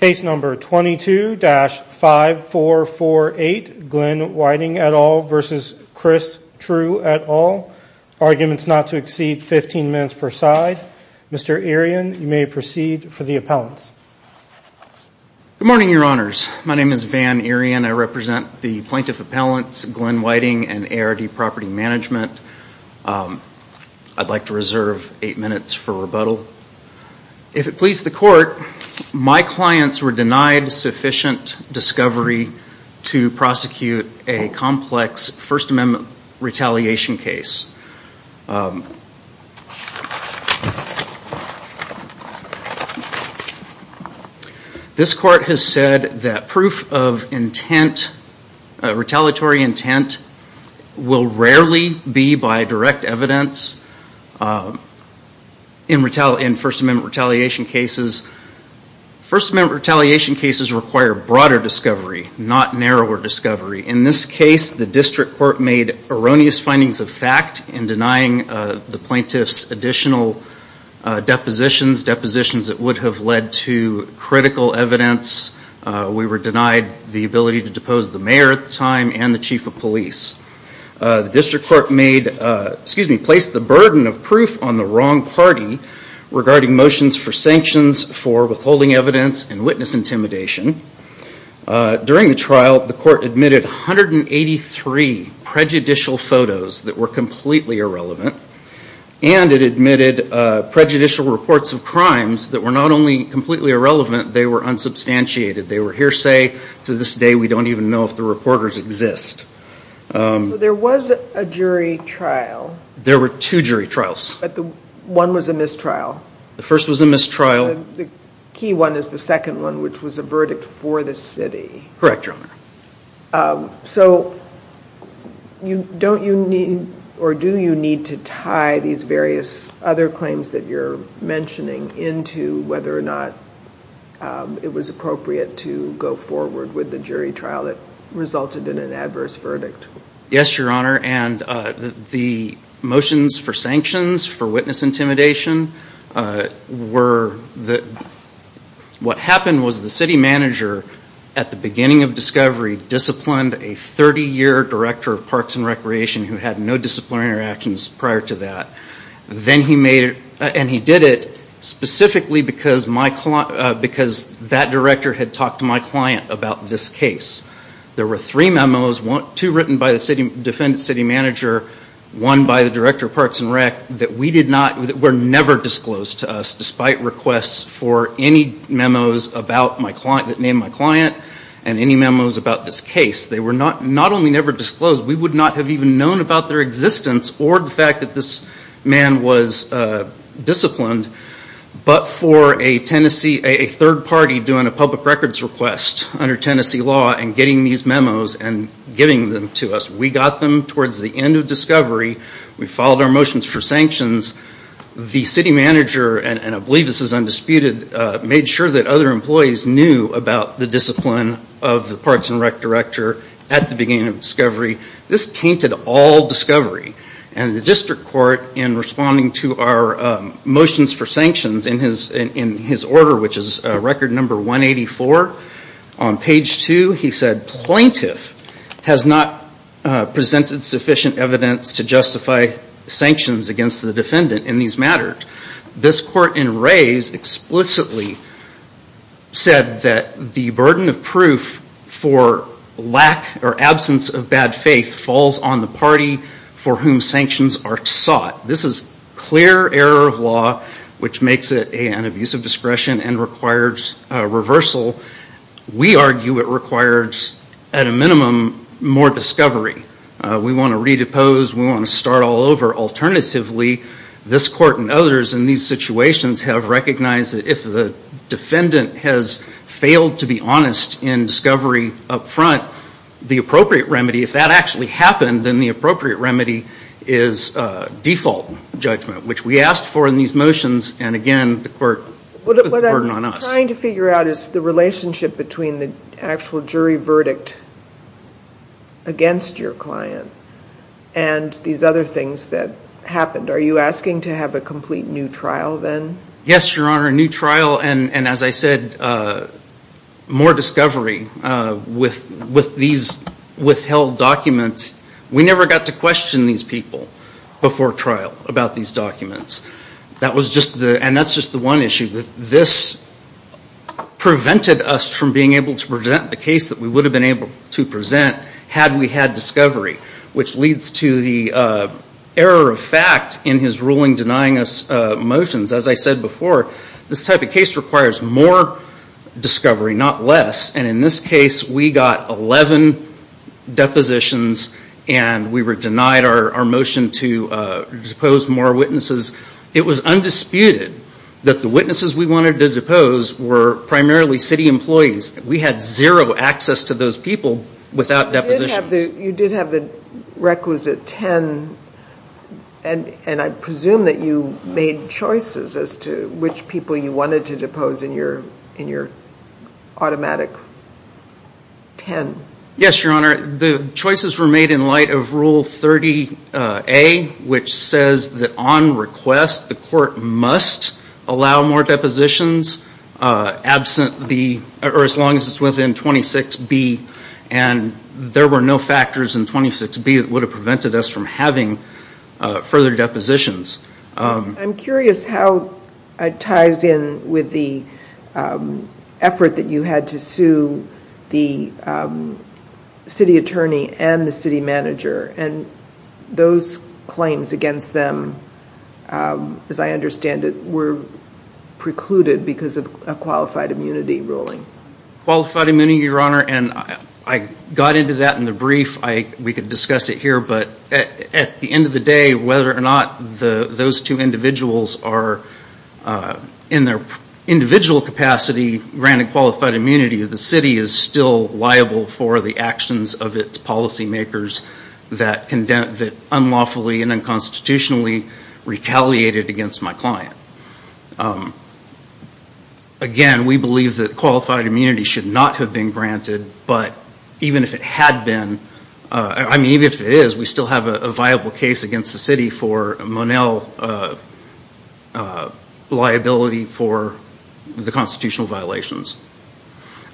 Case number 22-5448 Glenn Whiting et al versus Chris Trew et al Arguments not to exceed 15 minutes per side. Mr. Irian, you may proceed for the appellants Good morning, your honors. My name is Van Irian. I represent the plaintiff appellants Glenn Whiting and ARD property management I'd like to reserve eight minutes for rebuttal If it pleases the court, my clients were denied sufficient discovery to prosecute a complex First Amendment retaliation case This court has said that proof of intent retaliatory intent Will rarely be by direct evidence In First Amendment retaliation cases First Amendment retaliation cases require broader discovery not narrower discovery in this case The district court made erroneous findings of fact in denying the plaintiffs additional Depositions that would have led to critical evidence We were denied the ability to depose the mayor at the time and the chief of police The district court made excuse me placed the burden of proof on the wrong party regarding motions for sanctions for withholding evidence and witness intimidation During the trial the court admitted 183 prejudicial photos that were completely irrelevant and it admitted Prejudicial reports of crimes that were not only completely irrelevant. They were unsubstantiated. They were hearsay to this day We don't even know if the reporters exist There was a jury trial There were two jury trials, but the one was a mistrial The first was a mistrial the key one is the second one, which was a verdict for the city. Correct, Your Honor so You don't you need or do you need to tie these various other claims that you're mentioning into whether or not It was appropriate to go forward with the jury trial that resulted in an adverse verdict Yes, Your Honor and the motions for sanctions for witness intimidation were that What happened was the city manager at the beginning of discovery Disciplined a 30-year director of Parks and Recreation who had no disciplinary actions prior to that Then he made it and he did it Specifically because my client because that director had talked to my client about this case There were three memos one two written by the city defendant city manager One by the director of Parks and Rec that we did not were never disclosed to us despite requests for any memos about my client that named my client and any memos about this case They were not not only never disclosed. We would not have even known about their existence or the fact that this man was disciplined But for a Tennessee a third party doing a public records request Under Tennessee law and getting these memos and giving them to us. We got them towards the end of discovery We followed our motions for sanctions the city manager and I believe this is undisputed made sure that other employees knew about the discipline of the Parks and Rec director at the beginning of discovery this tainted all discovery and the district court in responding to our Motions for sanctions in his in his order, which is record number 184 on page two He said plaintiff has not Presented sufficient evidence to justify sanctions against the defendant in these matters this court in Rays explicitly said that the burden of proof for Lack or absence of bad faith falls on the party for whom sanctions are sought This is clear error of law, which makes it an abuse of discretion and requires reversal We argue it requires at a minimum more discovery. We want to redepose. We want to start all over alternatively this court and others in these situations have recognized that if the Defendant has failed to be honest in discovery up front the appropriate remedy if that actually happened then the appropriate remedy is Default judgment, which we asked for in these motions and again the court Trying to figure out is the relationship between the actual jury verdict Against your client and These other things that happened. Are you asking to have a complete new trial then? Yes, your honor a new trial and and as I said more discovery With with these withheld documents. We never got to question these people Before trial about these documents. That was just the and that's just the one issue that this Prevented us from being able to present the case that we would have been able to present had we had discovery which leads to the Error of fact in his ruling denying us motions as I said before this type of case requires more Discovery not less and in this case we got 11 Depositions and we were denied our motion to Depose more witnesses. It was undisputed that the witnesses we wanted to depose were primarily city employees We had zero access to those people without depositions. You did have the requisite ten and and I presume that you made choices as to which people you wanted to depose in your in your automatic Ten yes, your honor. The choices were made in light of rule 30 a Which says that on request the court must allow more depositions absent the or as long as it's within 26 B and There were no factors in 26 B that would have prevented us from having further depositions I'm curious how it ties in with the Effort that you had to sue the City attorney and the city manager and those claims against them as I understand it were precluded because of qualified immunity ruling Qualified immunity your honor, and I got into that in the brief I we could discuss it here, but at the end of the day whether or not the those two individuals are in their Individual capacity granted qualified immunity of the city is still liable for the actions of its policy makers That condense it unlawfully and unconstitutionally Retaliated against my client Again we believe that qualified immunity should not have been granted, but even if it had been I mean if it is we still have a viable case against the city for Monel Liability for the constitutional violations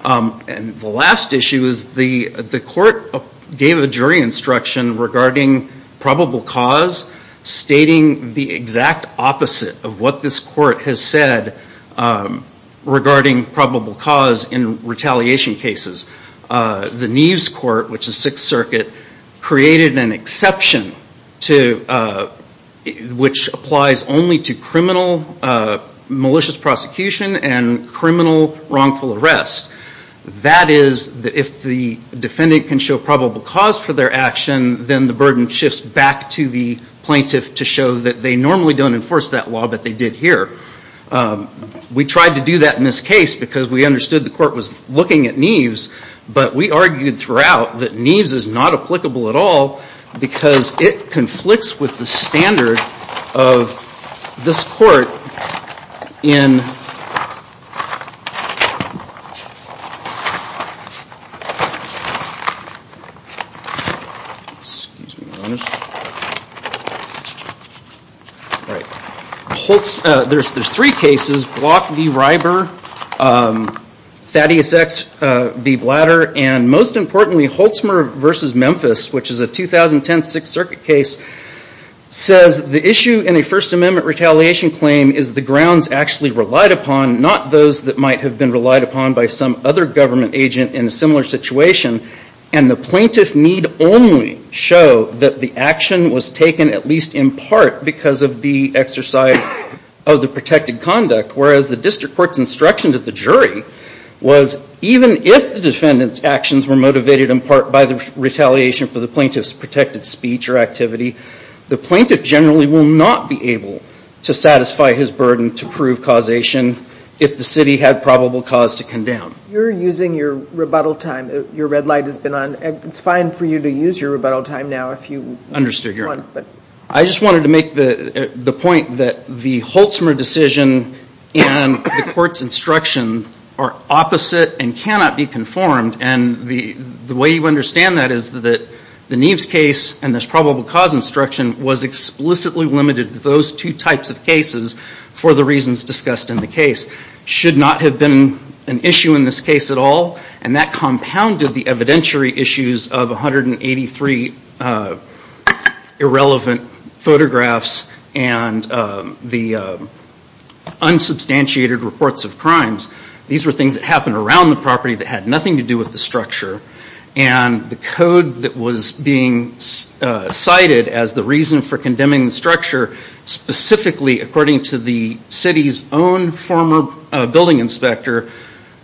And the last issue is the the court gave a jury instruction regarding probable cause Stating the exact opposite of what this court has said Regarding probable cause in retaliation cases The Neves court which is Sixth Circuit created an exception to Which applies only to criminal malicious prosecution and criminal wrongful arrest that is that if the Defendant can show probable cause for their action then the burden shifts back to the plaintiff to show that they normally don't enforce that Law, but they did here We tried to do that in this case because we understood the court was looking at Neves But we argued throughout that Neves is not applicable at all because it conflicts with the standard of this court in Right There's there's three cases Block v. Ryber Thaddeus X v. Blatter and most importantly Holtzmer v. Memphis, which is a 2010 Sixth Circuit case Says the issue in a First Amendment retaliation claim is the grounds actually relied upon not those that might have been relied upon by some other government agent in a similar situation and the plaintiff need only Show that the action was taken at least in part because of the exercise of the protected conduct whereas the district courts instruction to the jury was Even if the defendants actions were motivated in part by the retaliation for the plaintiff's protected speech or activity The plaintiff generally will not be able to satisfy his burden to prove causation If the city had probable cause to condemn you're using your rebuttal time your red light has been on It's fine for you to use your rebuttal time now if you understood your but I just wanted to make the the point that the Holtzmer decision and the courts instruction are opposite and cannot be conformed and the the way you understand that is that the Neves case and this probable cause instruction was Explicitly limited to those two types of cases for the reasons discussed in the case Should not have been an issue in this case at all and that compounded the evidentiary issues of 183 Irrelevant photographs and The Unsubstantiated reports of crimes these were things that happened around the property that had nothing to do with the structure and the code that was being Cited as the reason for condemning the structure specifically according to the city's own former building inspector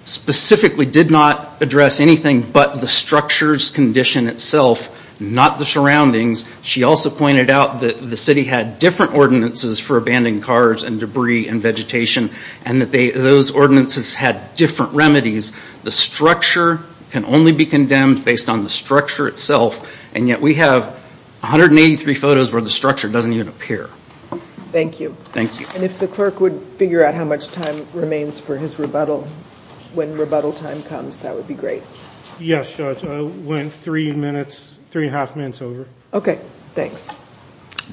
Specifically did not address anything, but the structure's condition itself not the surroundings She also pointed out that the city had different ordinances for abandoned cars and debris and vegetation and that they those Ordinances had different remedies the structure can only be condemned based on the structure itself and yet we have 183 photos where the structure doesn't even appear Thank you. Thank you. And if the clerk would figure out how much time remains for his rebuttal when rebuttal time comes Yes Went three minutes three and a half minutes over. Okay. Thanks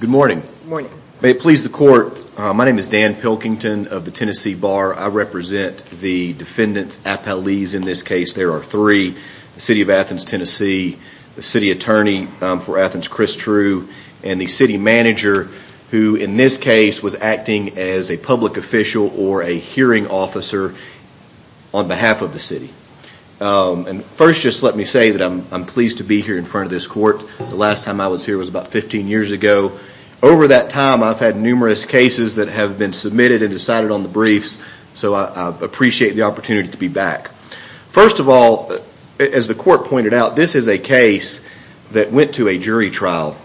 Good morning. Good morning. May it please the court. My name is Dan Pilkington of the Tennessee bar I represent the defendants at police in this case There are three the city of Athens, Tennessee the city attorney for Athens Chris true and the city manager who in this case was acting as a public official or a hearing officer on And first just let me say that I'm pleased to be here in front of this court The last time I was here was about 15 years ago Over that time. I've had numerous cases that have been submitted and decided on the briefs So I appreciate the opportunity to be back. First of all as the court pointed out. This is a case That went to a jury trial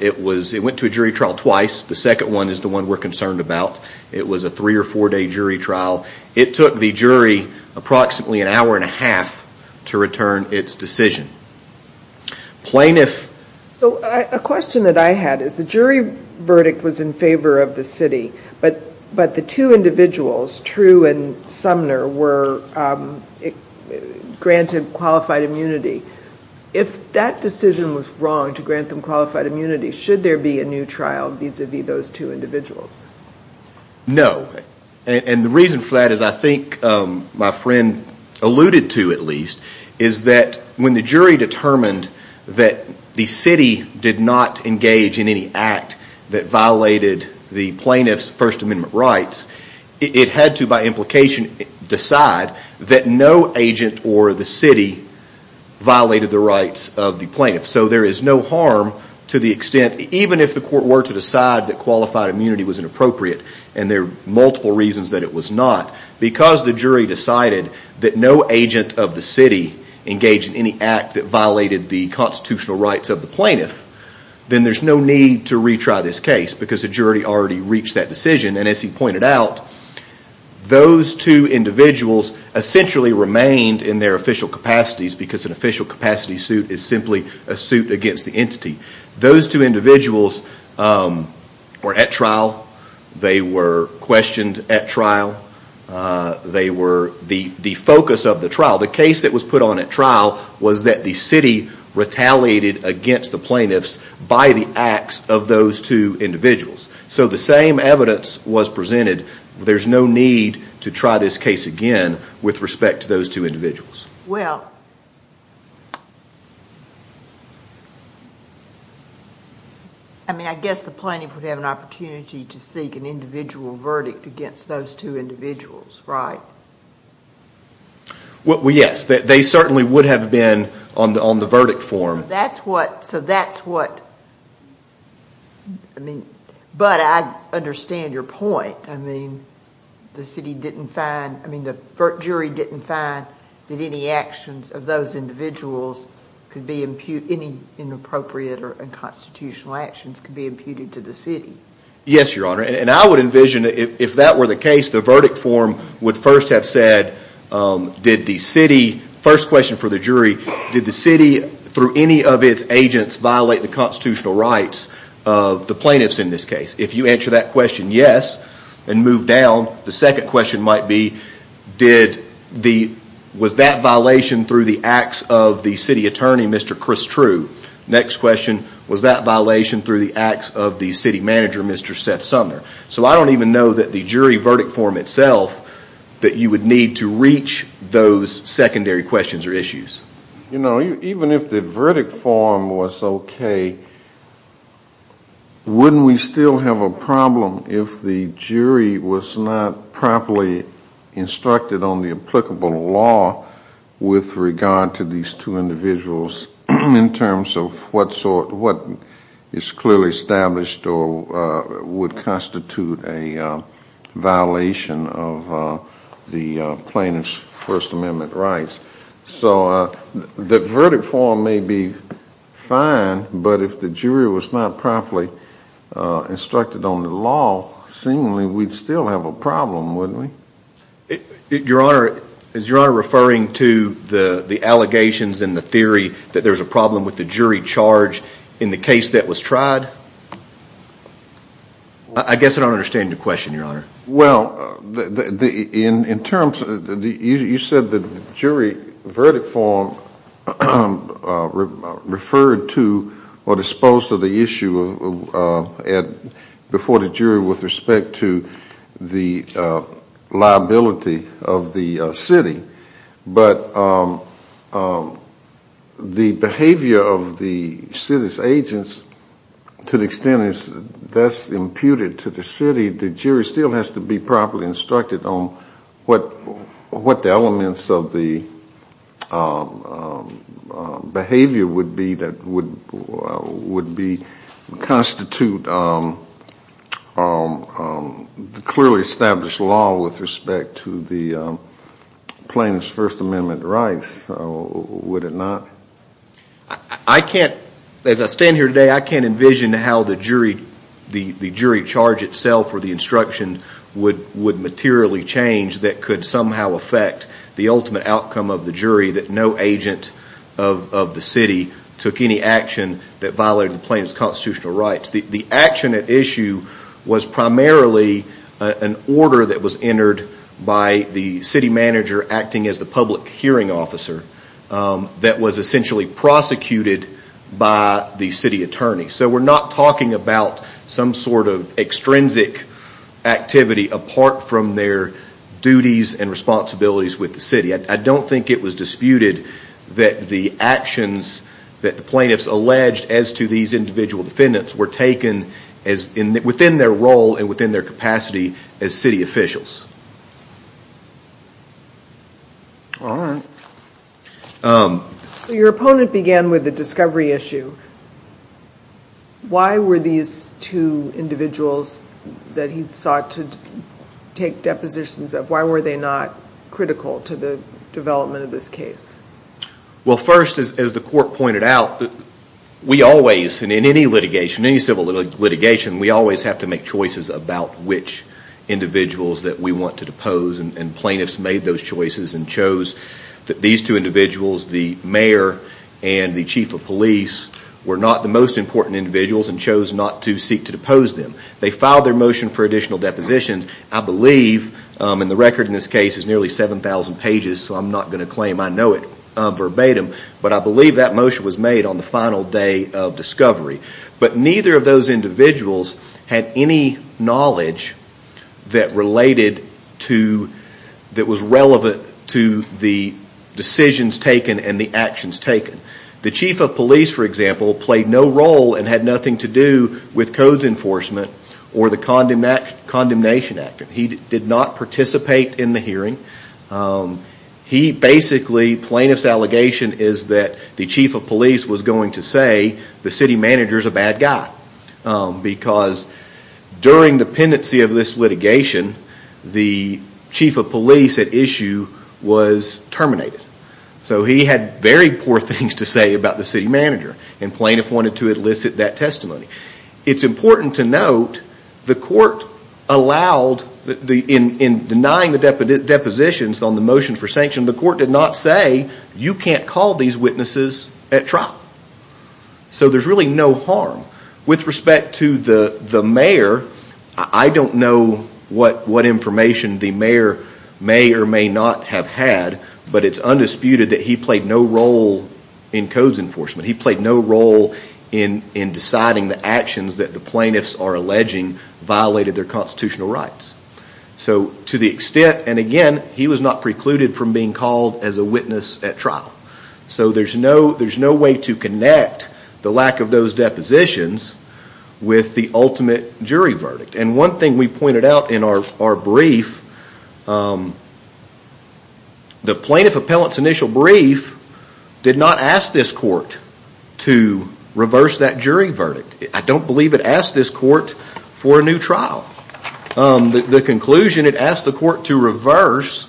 It was it went to a jury trial twice. The second one is the one we're concerned about It was a three or four day jury trial it took the jury approximately an hour and a half to return its decision plaintiff so a question that I had is the jury verdict was in favor of the city, but but the two individuals true and Sumner were Granted qualified immunity if that decision was wrong to grant them qualified immunity Should there be a new trial vis-a-vis those two individuals? No, and the reason for that is I think My friend alluded to at least is that when the jury determined that? The city did not engage in any act that violated the plaintiffs First Amendment rights It had to by implication Decide that no agent or the city Violated the rights of the plaintiff so there is no harm to the extent even if the court were to decide that qualified immunity was inappropriate and There are multiple reasons that it was not because the jury decided that no agent of the city Engaged in any act that violated the constitutional rights of the plaintiff Then there's no need to retry this case because the jury already reached that decision and as he pointed out those two individuals Essentially remained in their official capacities because an official capacity suit is simply a suit against the entity those two individuals Were at trial they were questioned at trial They were the the focus of the trial the case that was put on at trial was that the city Retaliated against the plaintiffs by the acts of those two individuals so the same evidence was presented There's no need to try this case again with respect to those two individuals well I Mean I guess the plaintiff would have an opportunity to seek an individual verdict against those two individuals, right? What we yes that they certainly would have been on the on the verdict form that's what so that's what I Mean but I understand your point I mean The city didn't find I mean the jury didn't find that any actions of those individuals Could be impute any inappropriate or unconstitutional actions could be imputed to the city yes your honor And I would envision if that were the case the verdict form would first have said Did the city first question for the jury did the city through any of its agents violate the constitutional rights of? The plaintiffs in this case if you answer that question yes, and move down the second question might be Did the was that violation through the acts of the city attorney mr.. Chris true next question was that? Violation through the acts of the city manager mr.. Seth Sumner, so I don't even know that the jury verdict form itself That you would need to reach those secondary questions or issues. You know even if the verdict form was okay Wouldn't we still have a problem if the jury was not properly instructed on the applicable law With regard to these two individuals in terms of what sort what is clearly established or? would constitute a violation of the plaintiffs First Amendment rights, so the verdict form may be Fine, but if the jury was not properly Instructed on the law seemingly we'd still have a problem wouldn't we? Your honor is your honor referring to the the allegations in the theory that there's a problem with the jury charge In the case that was tried I Guess I don't understand the question your honor well the the in in terms of the you said the jury verdict form I Referred to or disposed of the issue at before the jury with respect to the liability of the city, but The behavior of the city's agents To the extent is that's imputed to the city the jury still has to be properly instructed on what? what the elements of the Behavior would be that would would be constitute Clearly established law with respect to the plaintiffs First Amendment rights Would it not I? Can't as I stand here today I can't envision how the jury the the jury charge itself or the instruction would would materially change that could somehow affect the ultimate outcome of the jury that no agent of The city took any action that violated the plaintiff's constitutional rights the the action at issue Was primarily an order that was entered by the city manager acting as the public hearing officer That was essentially prosecuted by the city attorney, so we're not talking about some sort of extrinsic Activity apart from their duties and responsibilities with the city I don't think it was disputed that the actions that the plaintiffs alleged as to these individual defendants were taken as In within their role and within their capacity as city officials So your opponent began with the discovery issue Why were these two individuals that he sought to Take depositions of why were they not critical to the development of this case? Well first as the court pointed out that we always and in any litigation any civil litigation We always have to make choices about which individuals that we want to depose and plaintiffs made those choices and chose that these two individuals the mayor and The chief of police were not the most important individuals and chose not to seek to depose them They filed their motion for additional depositions. I believe in the record in this case is nearly 7,000 pages So I'm not going to claim. I know it verbatim But I believe that motion was made on the final day of discovery, but neither of those individuals had any knowledge that related to that was relevant to the Decisions taken and the actions taken the chief of police for example played no role and had nothing to do with codes Enforcement or the condiment condemnation act he did not participate in the hearing He basically plaintiffs allegation is that the chief of police was going to say the city manager is a bad guy because during the pendency of this litigation The chief of police at issue was Terminated so he had very poor things to say about the city manager and plaintiff wanted to elicit that testimony It's important to note the court Allowed the in in denying the deposition on the motion for sanction the court did not say you can't call these witnesses at trial So there's really no harm with respect to the the mayor I don't know what what information the mayor may or may not have had But it's undisputed that he played no role in codes enforcement He played no role in in deciding the actions that the plaintiffs are alleging violated their constitutional rights So to the extent and again, he was not precluded from being called as a witness at trial So there's no there's no way to connect the lack of those depositions With the ultimate jury verdict and one thing we pointed out in our brief The plaintiff appellants initial brief Did not ask this court to reverse that jury verdict. I don't believe it asked this court for a new trial The conclusion it asked the court to reverse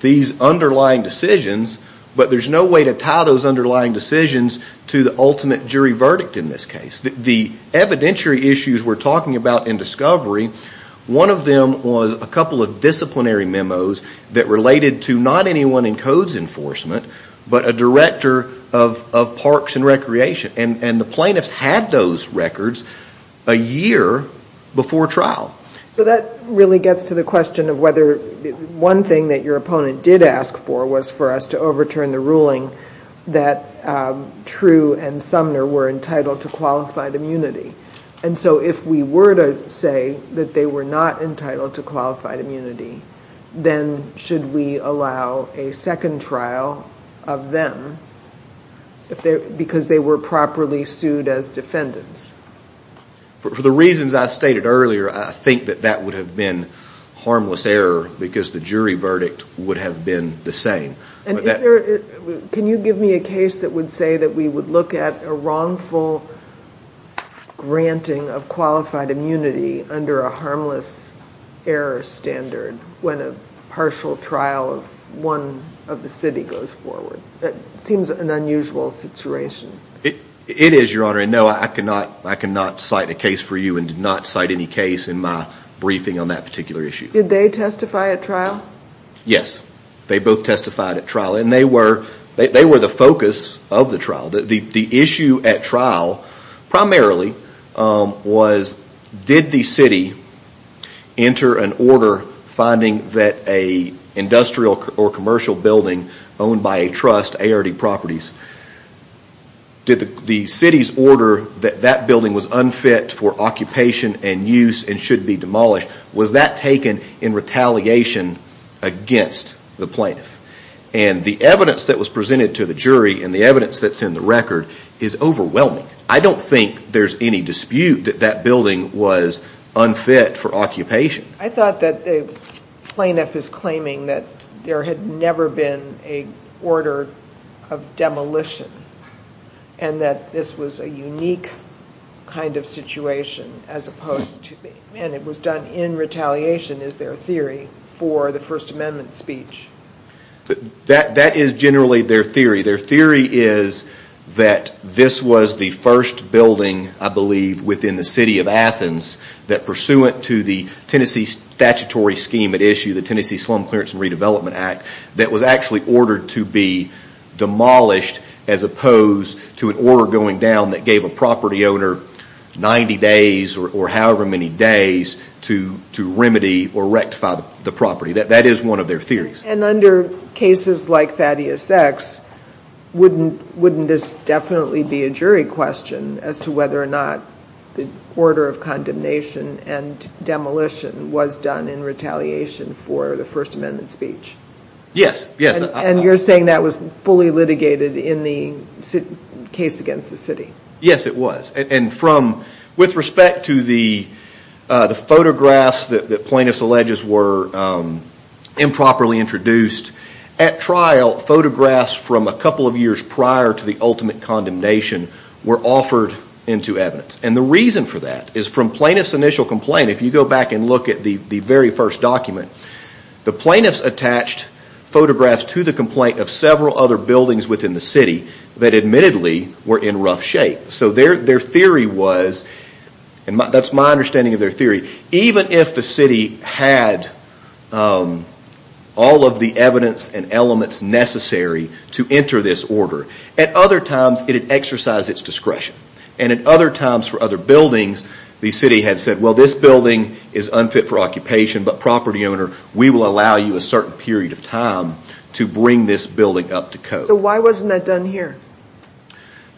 These underlying decisions, but there's no way to tie those underlying decisions to the ultimate jury verdict in this case The evidentiary issues we're talking about in discovery One of them was a couple of disciplinary memos that related to not anyone in codes enforcement but a director of Parks and Recreation and and the plaintiffs had those records a year before trial So that really gets to the question of whether one thing that your opponent did ask for was for us to overturn the ruling that True and Sumner were entitled to qualified immunity And so if we were to say that they were not entitled to qualified immunity Then should we allow a second trial of them? If they're because they were properly sued as defendants For the reasons I stated earlier. I think that that would have been Harmless error because the jury verdict would have been the same and that Can you give me a case that would say that we would look at a wrongful Granting of qualified immunity under a harmless Error standard when a partial trial of one of the city goes forward that seems an unusual Situation it it is your honor I know I cannot I cannot cite a case for you and did not cite any case in my Briefing on that particular issue. Did they testify at trial? Yes, they both testified at trial and they were they were the focus of the trial that the issue at trial primarily Was did the city? enter an order finding that a Industrial or commercial building owned by a trust ARD properties Did the city's order that that building was unfit for occupation and use and should be demolished was that taken in? retaliation Against the plaintiff and the evidence that was presented to the jury and the evidence that's in the record is overwhelming I don't think there's any dispute that that building was unfit for occupation I thought that the Plaintiff is claiming that there had never been a order of demolition and That this was a unique Kind of situation as opposed to me, and it was done in retaliation is their theory for the First Amendment speech That that is generally their theory their theory is That this was the first building I believe within the city of Athens that pursuant to the Tennessee statutory scheme at issue the Tennessee slum clearance and redevelopment act that was actually ordered to be Demolished as opposed to an order going down that gave a property owner 90 days or however many days to to remedy or rectify the property that that is one of their theories and under cases like Thaddeus X Wouldn't wouldn't this definitely be a jury question as to whether or not the order of condemnation and Demolition was done in retaliation for the First Amendment speech Yes, yes, and you're saying that was fully litigated in the case against the city yes, it was and from with respect to the the photographs that the plaintiffs alleges were Improperly introduced at trial photographs from a couple of years prior to the ultimate Condemnation were offered into evidence and the reason for that is from plaintiffs initial complaint if you go back and look at the very first document the plaintiffs attached Photographs to the complaint of several other buildings within the city that admittedly were in rough shape so their their theory was and that's my understanding of their theory even if the city had All of the evidence and elements necessary to enter this order at other times It had exercised its discretion and at other times for other buildings the city had said well this building is unfit for occupation But property owner we will allow you a certain period of time to bring this building up to code So why wasn't that done here?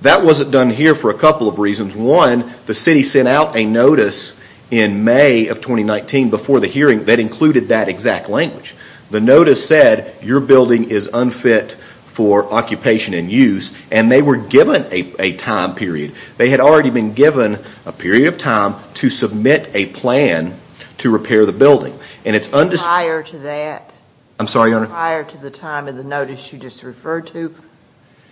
That wasn't done here for a couple of reasons one the city sent out a notice in May of 2019 before the hearing that included that exact language the notice said your building is unfit for Occupation and use and they were given a time period they had already been given a period of time to submit a plan To repair the building and it's under higher to that I'm sorry your prior to the time of the notice you just referred to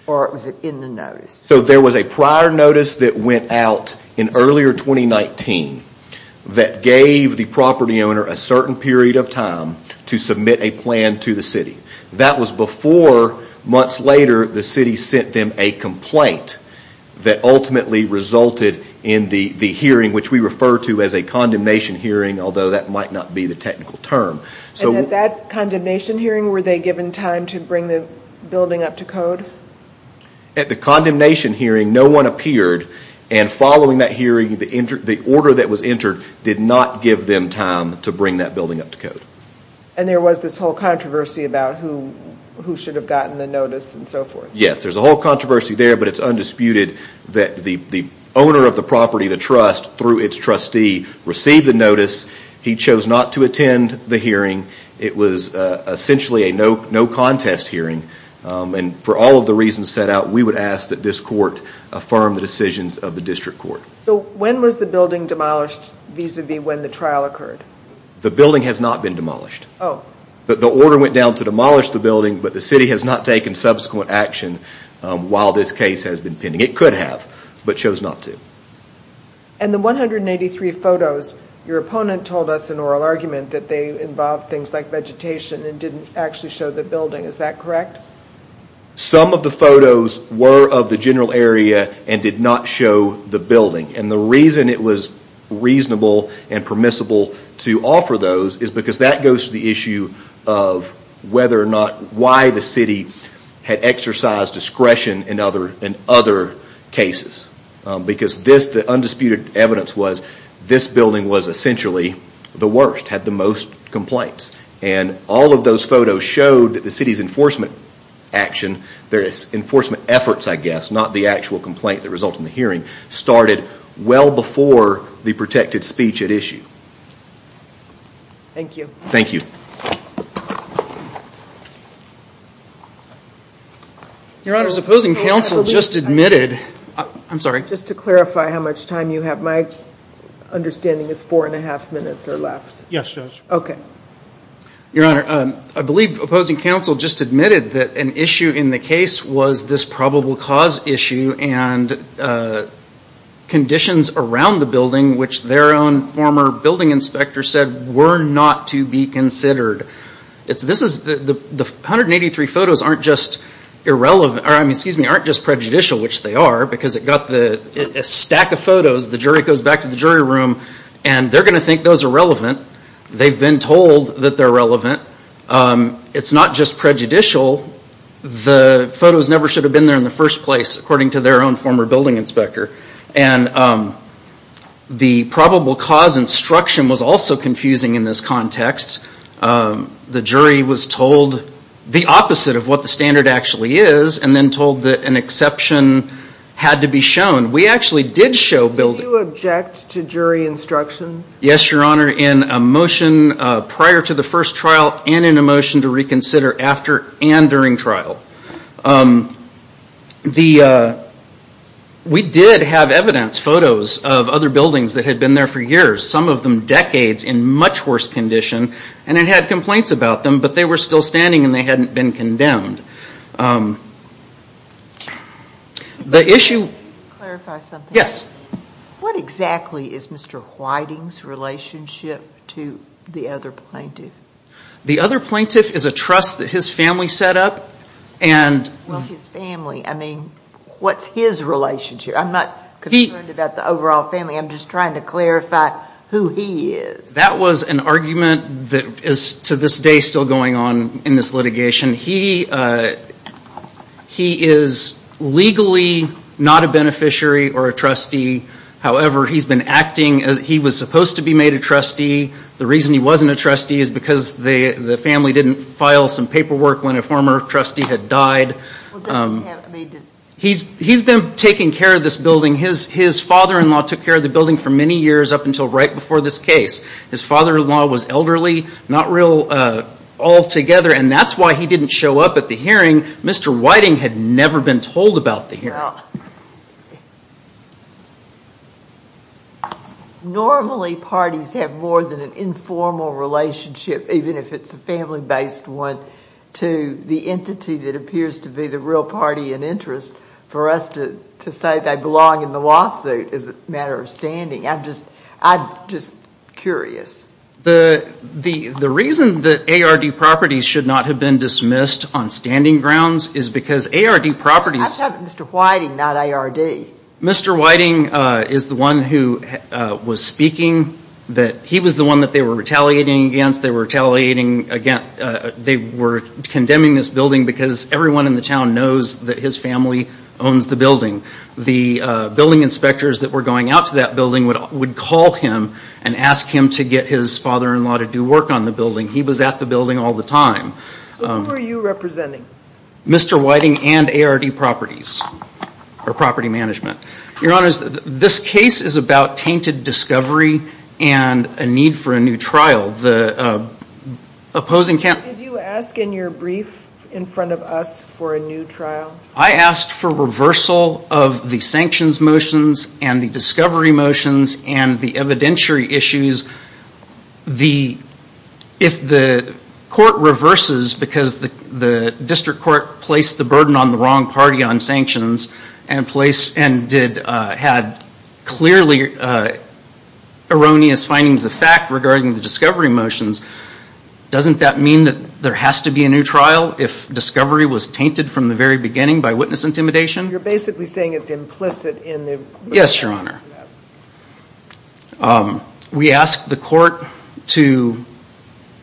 Or it was it in the notice so there was a prior notice that went out in earlier 2019 That gave the property owner a certain period of time to submit a plan to the city that was before Months later the city sent them a complaint That ultimately resulted in the the hearing which we refer to as a condemnation hearing although that might not be the technical term So that condemnation hearing were they given time to bring the building up to code? at the condemnation hearing no one appeared and Following that hearing the inter the order that was entered did not give them time to bring that building up to code And there was this whole controversy about who who should have gotten the notice and so forth yes There's a whole controversy there But it's undisputed that the the owner of the property the trust through its trustee received the notice He chose not to attend the hearing it was Essentially a no no contest hearing and for all of the reasons set out We would ask that this court affirmed the decisions of the district court so when was the building demolished These would be when the trial occurred the building has not been demolished Oh, but the order went down to demolish the building But the city has not taken subsequent action while this case has been pending it could have but chose not to and the 183 photos your opponent told us an oral argument that they involved things like vegetation and didn't actually show the building is that correct some of the photos were of the general area and did not show the building and the reason it was reasonable and permissible to offer those is because that goes to the issue of Whether or not why the city had exercised discretion in other in other cases because this the undisputed evidence was this building was essentially the worst had the most Complaints and all of those photos showed that the city's enforcement Action there is enforcement efforts. I guess not the actual complaint that results in the hearing started well before the protected speech at issue Thank you, thank you Your Honor's opposing counsel just admitted. I'm sorry just to clarify how much time you have my Understanding is four and a half minutes or left. Yes, okay Your honor. I believe opposing counsel just admitted that an issue in the case was this probable cause issue and Conditions around the building which their own former building inspector said were not to be considered It's this is the the 183 photos aren't just irrelevant I mean, excuse me aren't just prejudicial which they are because it got the Stack of photos the jury goes back to the jury room and they're gonna think those are relevant. They've been told that they're relevant It's not just prejudicial the photos never should have been there in the first place according to their own former building inspector and The probable cause instruction was also confusing in this context The jury was told the opposite of what the standard actually is and then told that an exception Had to be shown we actually did show building object to jury instructions. Yes, your honor in a motion Prior to the first trial and in a motion to reconsider after and during trial The We did have evidence photos of other buildings that had been there for years some of them decades in much worse condition And it had complaints about them, but they were still standing and they hadn't been condemned The issue Yes What exactly is mr. Whiting's relationship to the other plaintiff? the other plaintiff is a trust that his family set up and Family I mean, what's his relationship? I'm not he about the overall family I'm just trying to clarify who he is. That was an argument that is to this day still going on in this litigation. He He is Legally, not a beneficiary or a trustee However, he's been acting as he was supposed to be made a trustee The reason he wasn't a trustee is because they the family didn't file some paperwork when a former trustee had died He's he's been taking care of this building his his father-in-law took care of the building for many years up until right before this case His father-in-law was elderly not real Altogether and that's why he didn't show up at the hearing. Mr. Whiting had never been told about the here Normally parties have more than an informal relationship Even if it's a family-based one to the entity that appears to be the real party and interest For us to to say they belong in the lawsuit as a matter of standing. I'm just I'm just curious the The the reason that ARD properties should not have been dismissed on standing grounds is because ARD properties Mr. Whiting not ARD. Mr. Whiting is the one who? Was speaking that he was the one that they were retaliating against they were retaliating again they were condemning this building because everyone in the town knows that his family owns the building the Building inspectors that were going out to that building would would call him and ask him to get his father-in-law to do work on The building he was at the building all the time Mr. Whiting and ARD properties Or property management, your honor's this case is about tainted discovery and a need for a new trial the Opposing camp. Did you ask in your brief in front of us for a new trial? I asked for reversal of the sanctions motions and the discovery motions and the evidentiary issues the if the Court reverses because the the district court placed the burden on the wrong party on sanctions and place and did had clearly Erroneous findings of fact regarding the discovery motions Doesn't that mean that there has to be a new trial if discovery was tainted from the very beginning by witness intimidation? You're basically saying it's implicit in the yes, your honor We asked the court to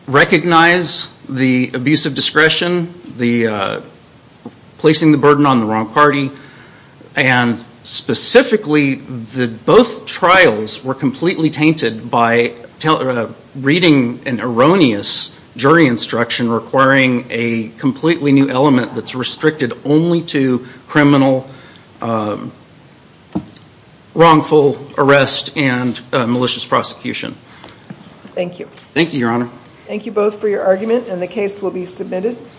Recognize the abuse of discretion the placing the burden on the wrong party and Specifically the both trials were completely tainted by Reading an erroneous jury instruction requiring a completely new element that's restricted only to criminal Wrongful arrest and malicious prosecution Thank you, thank you your honor. Thank you both for your argument and the case will be submitted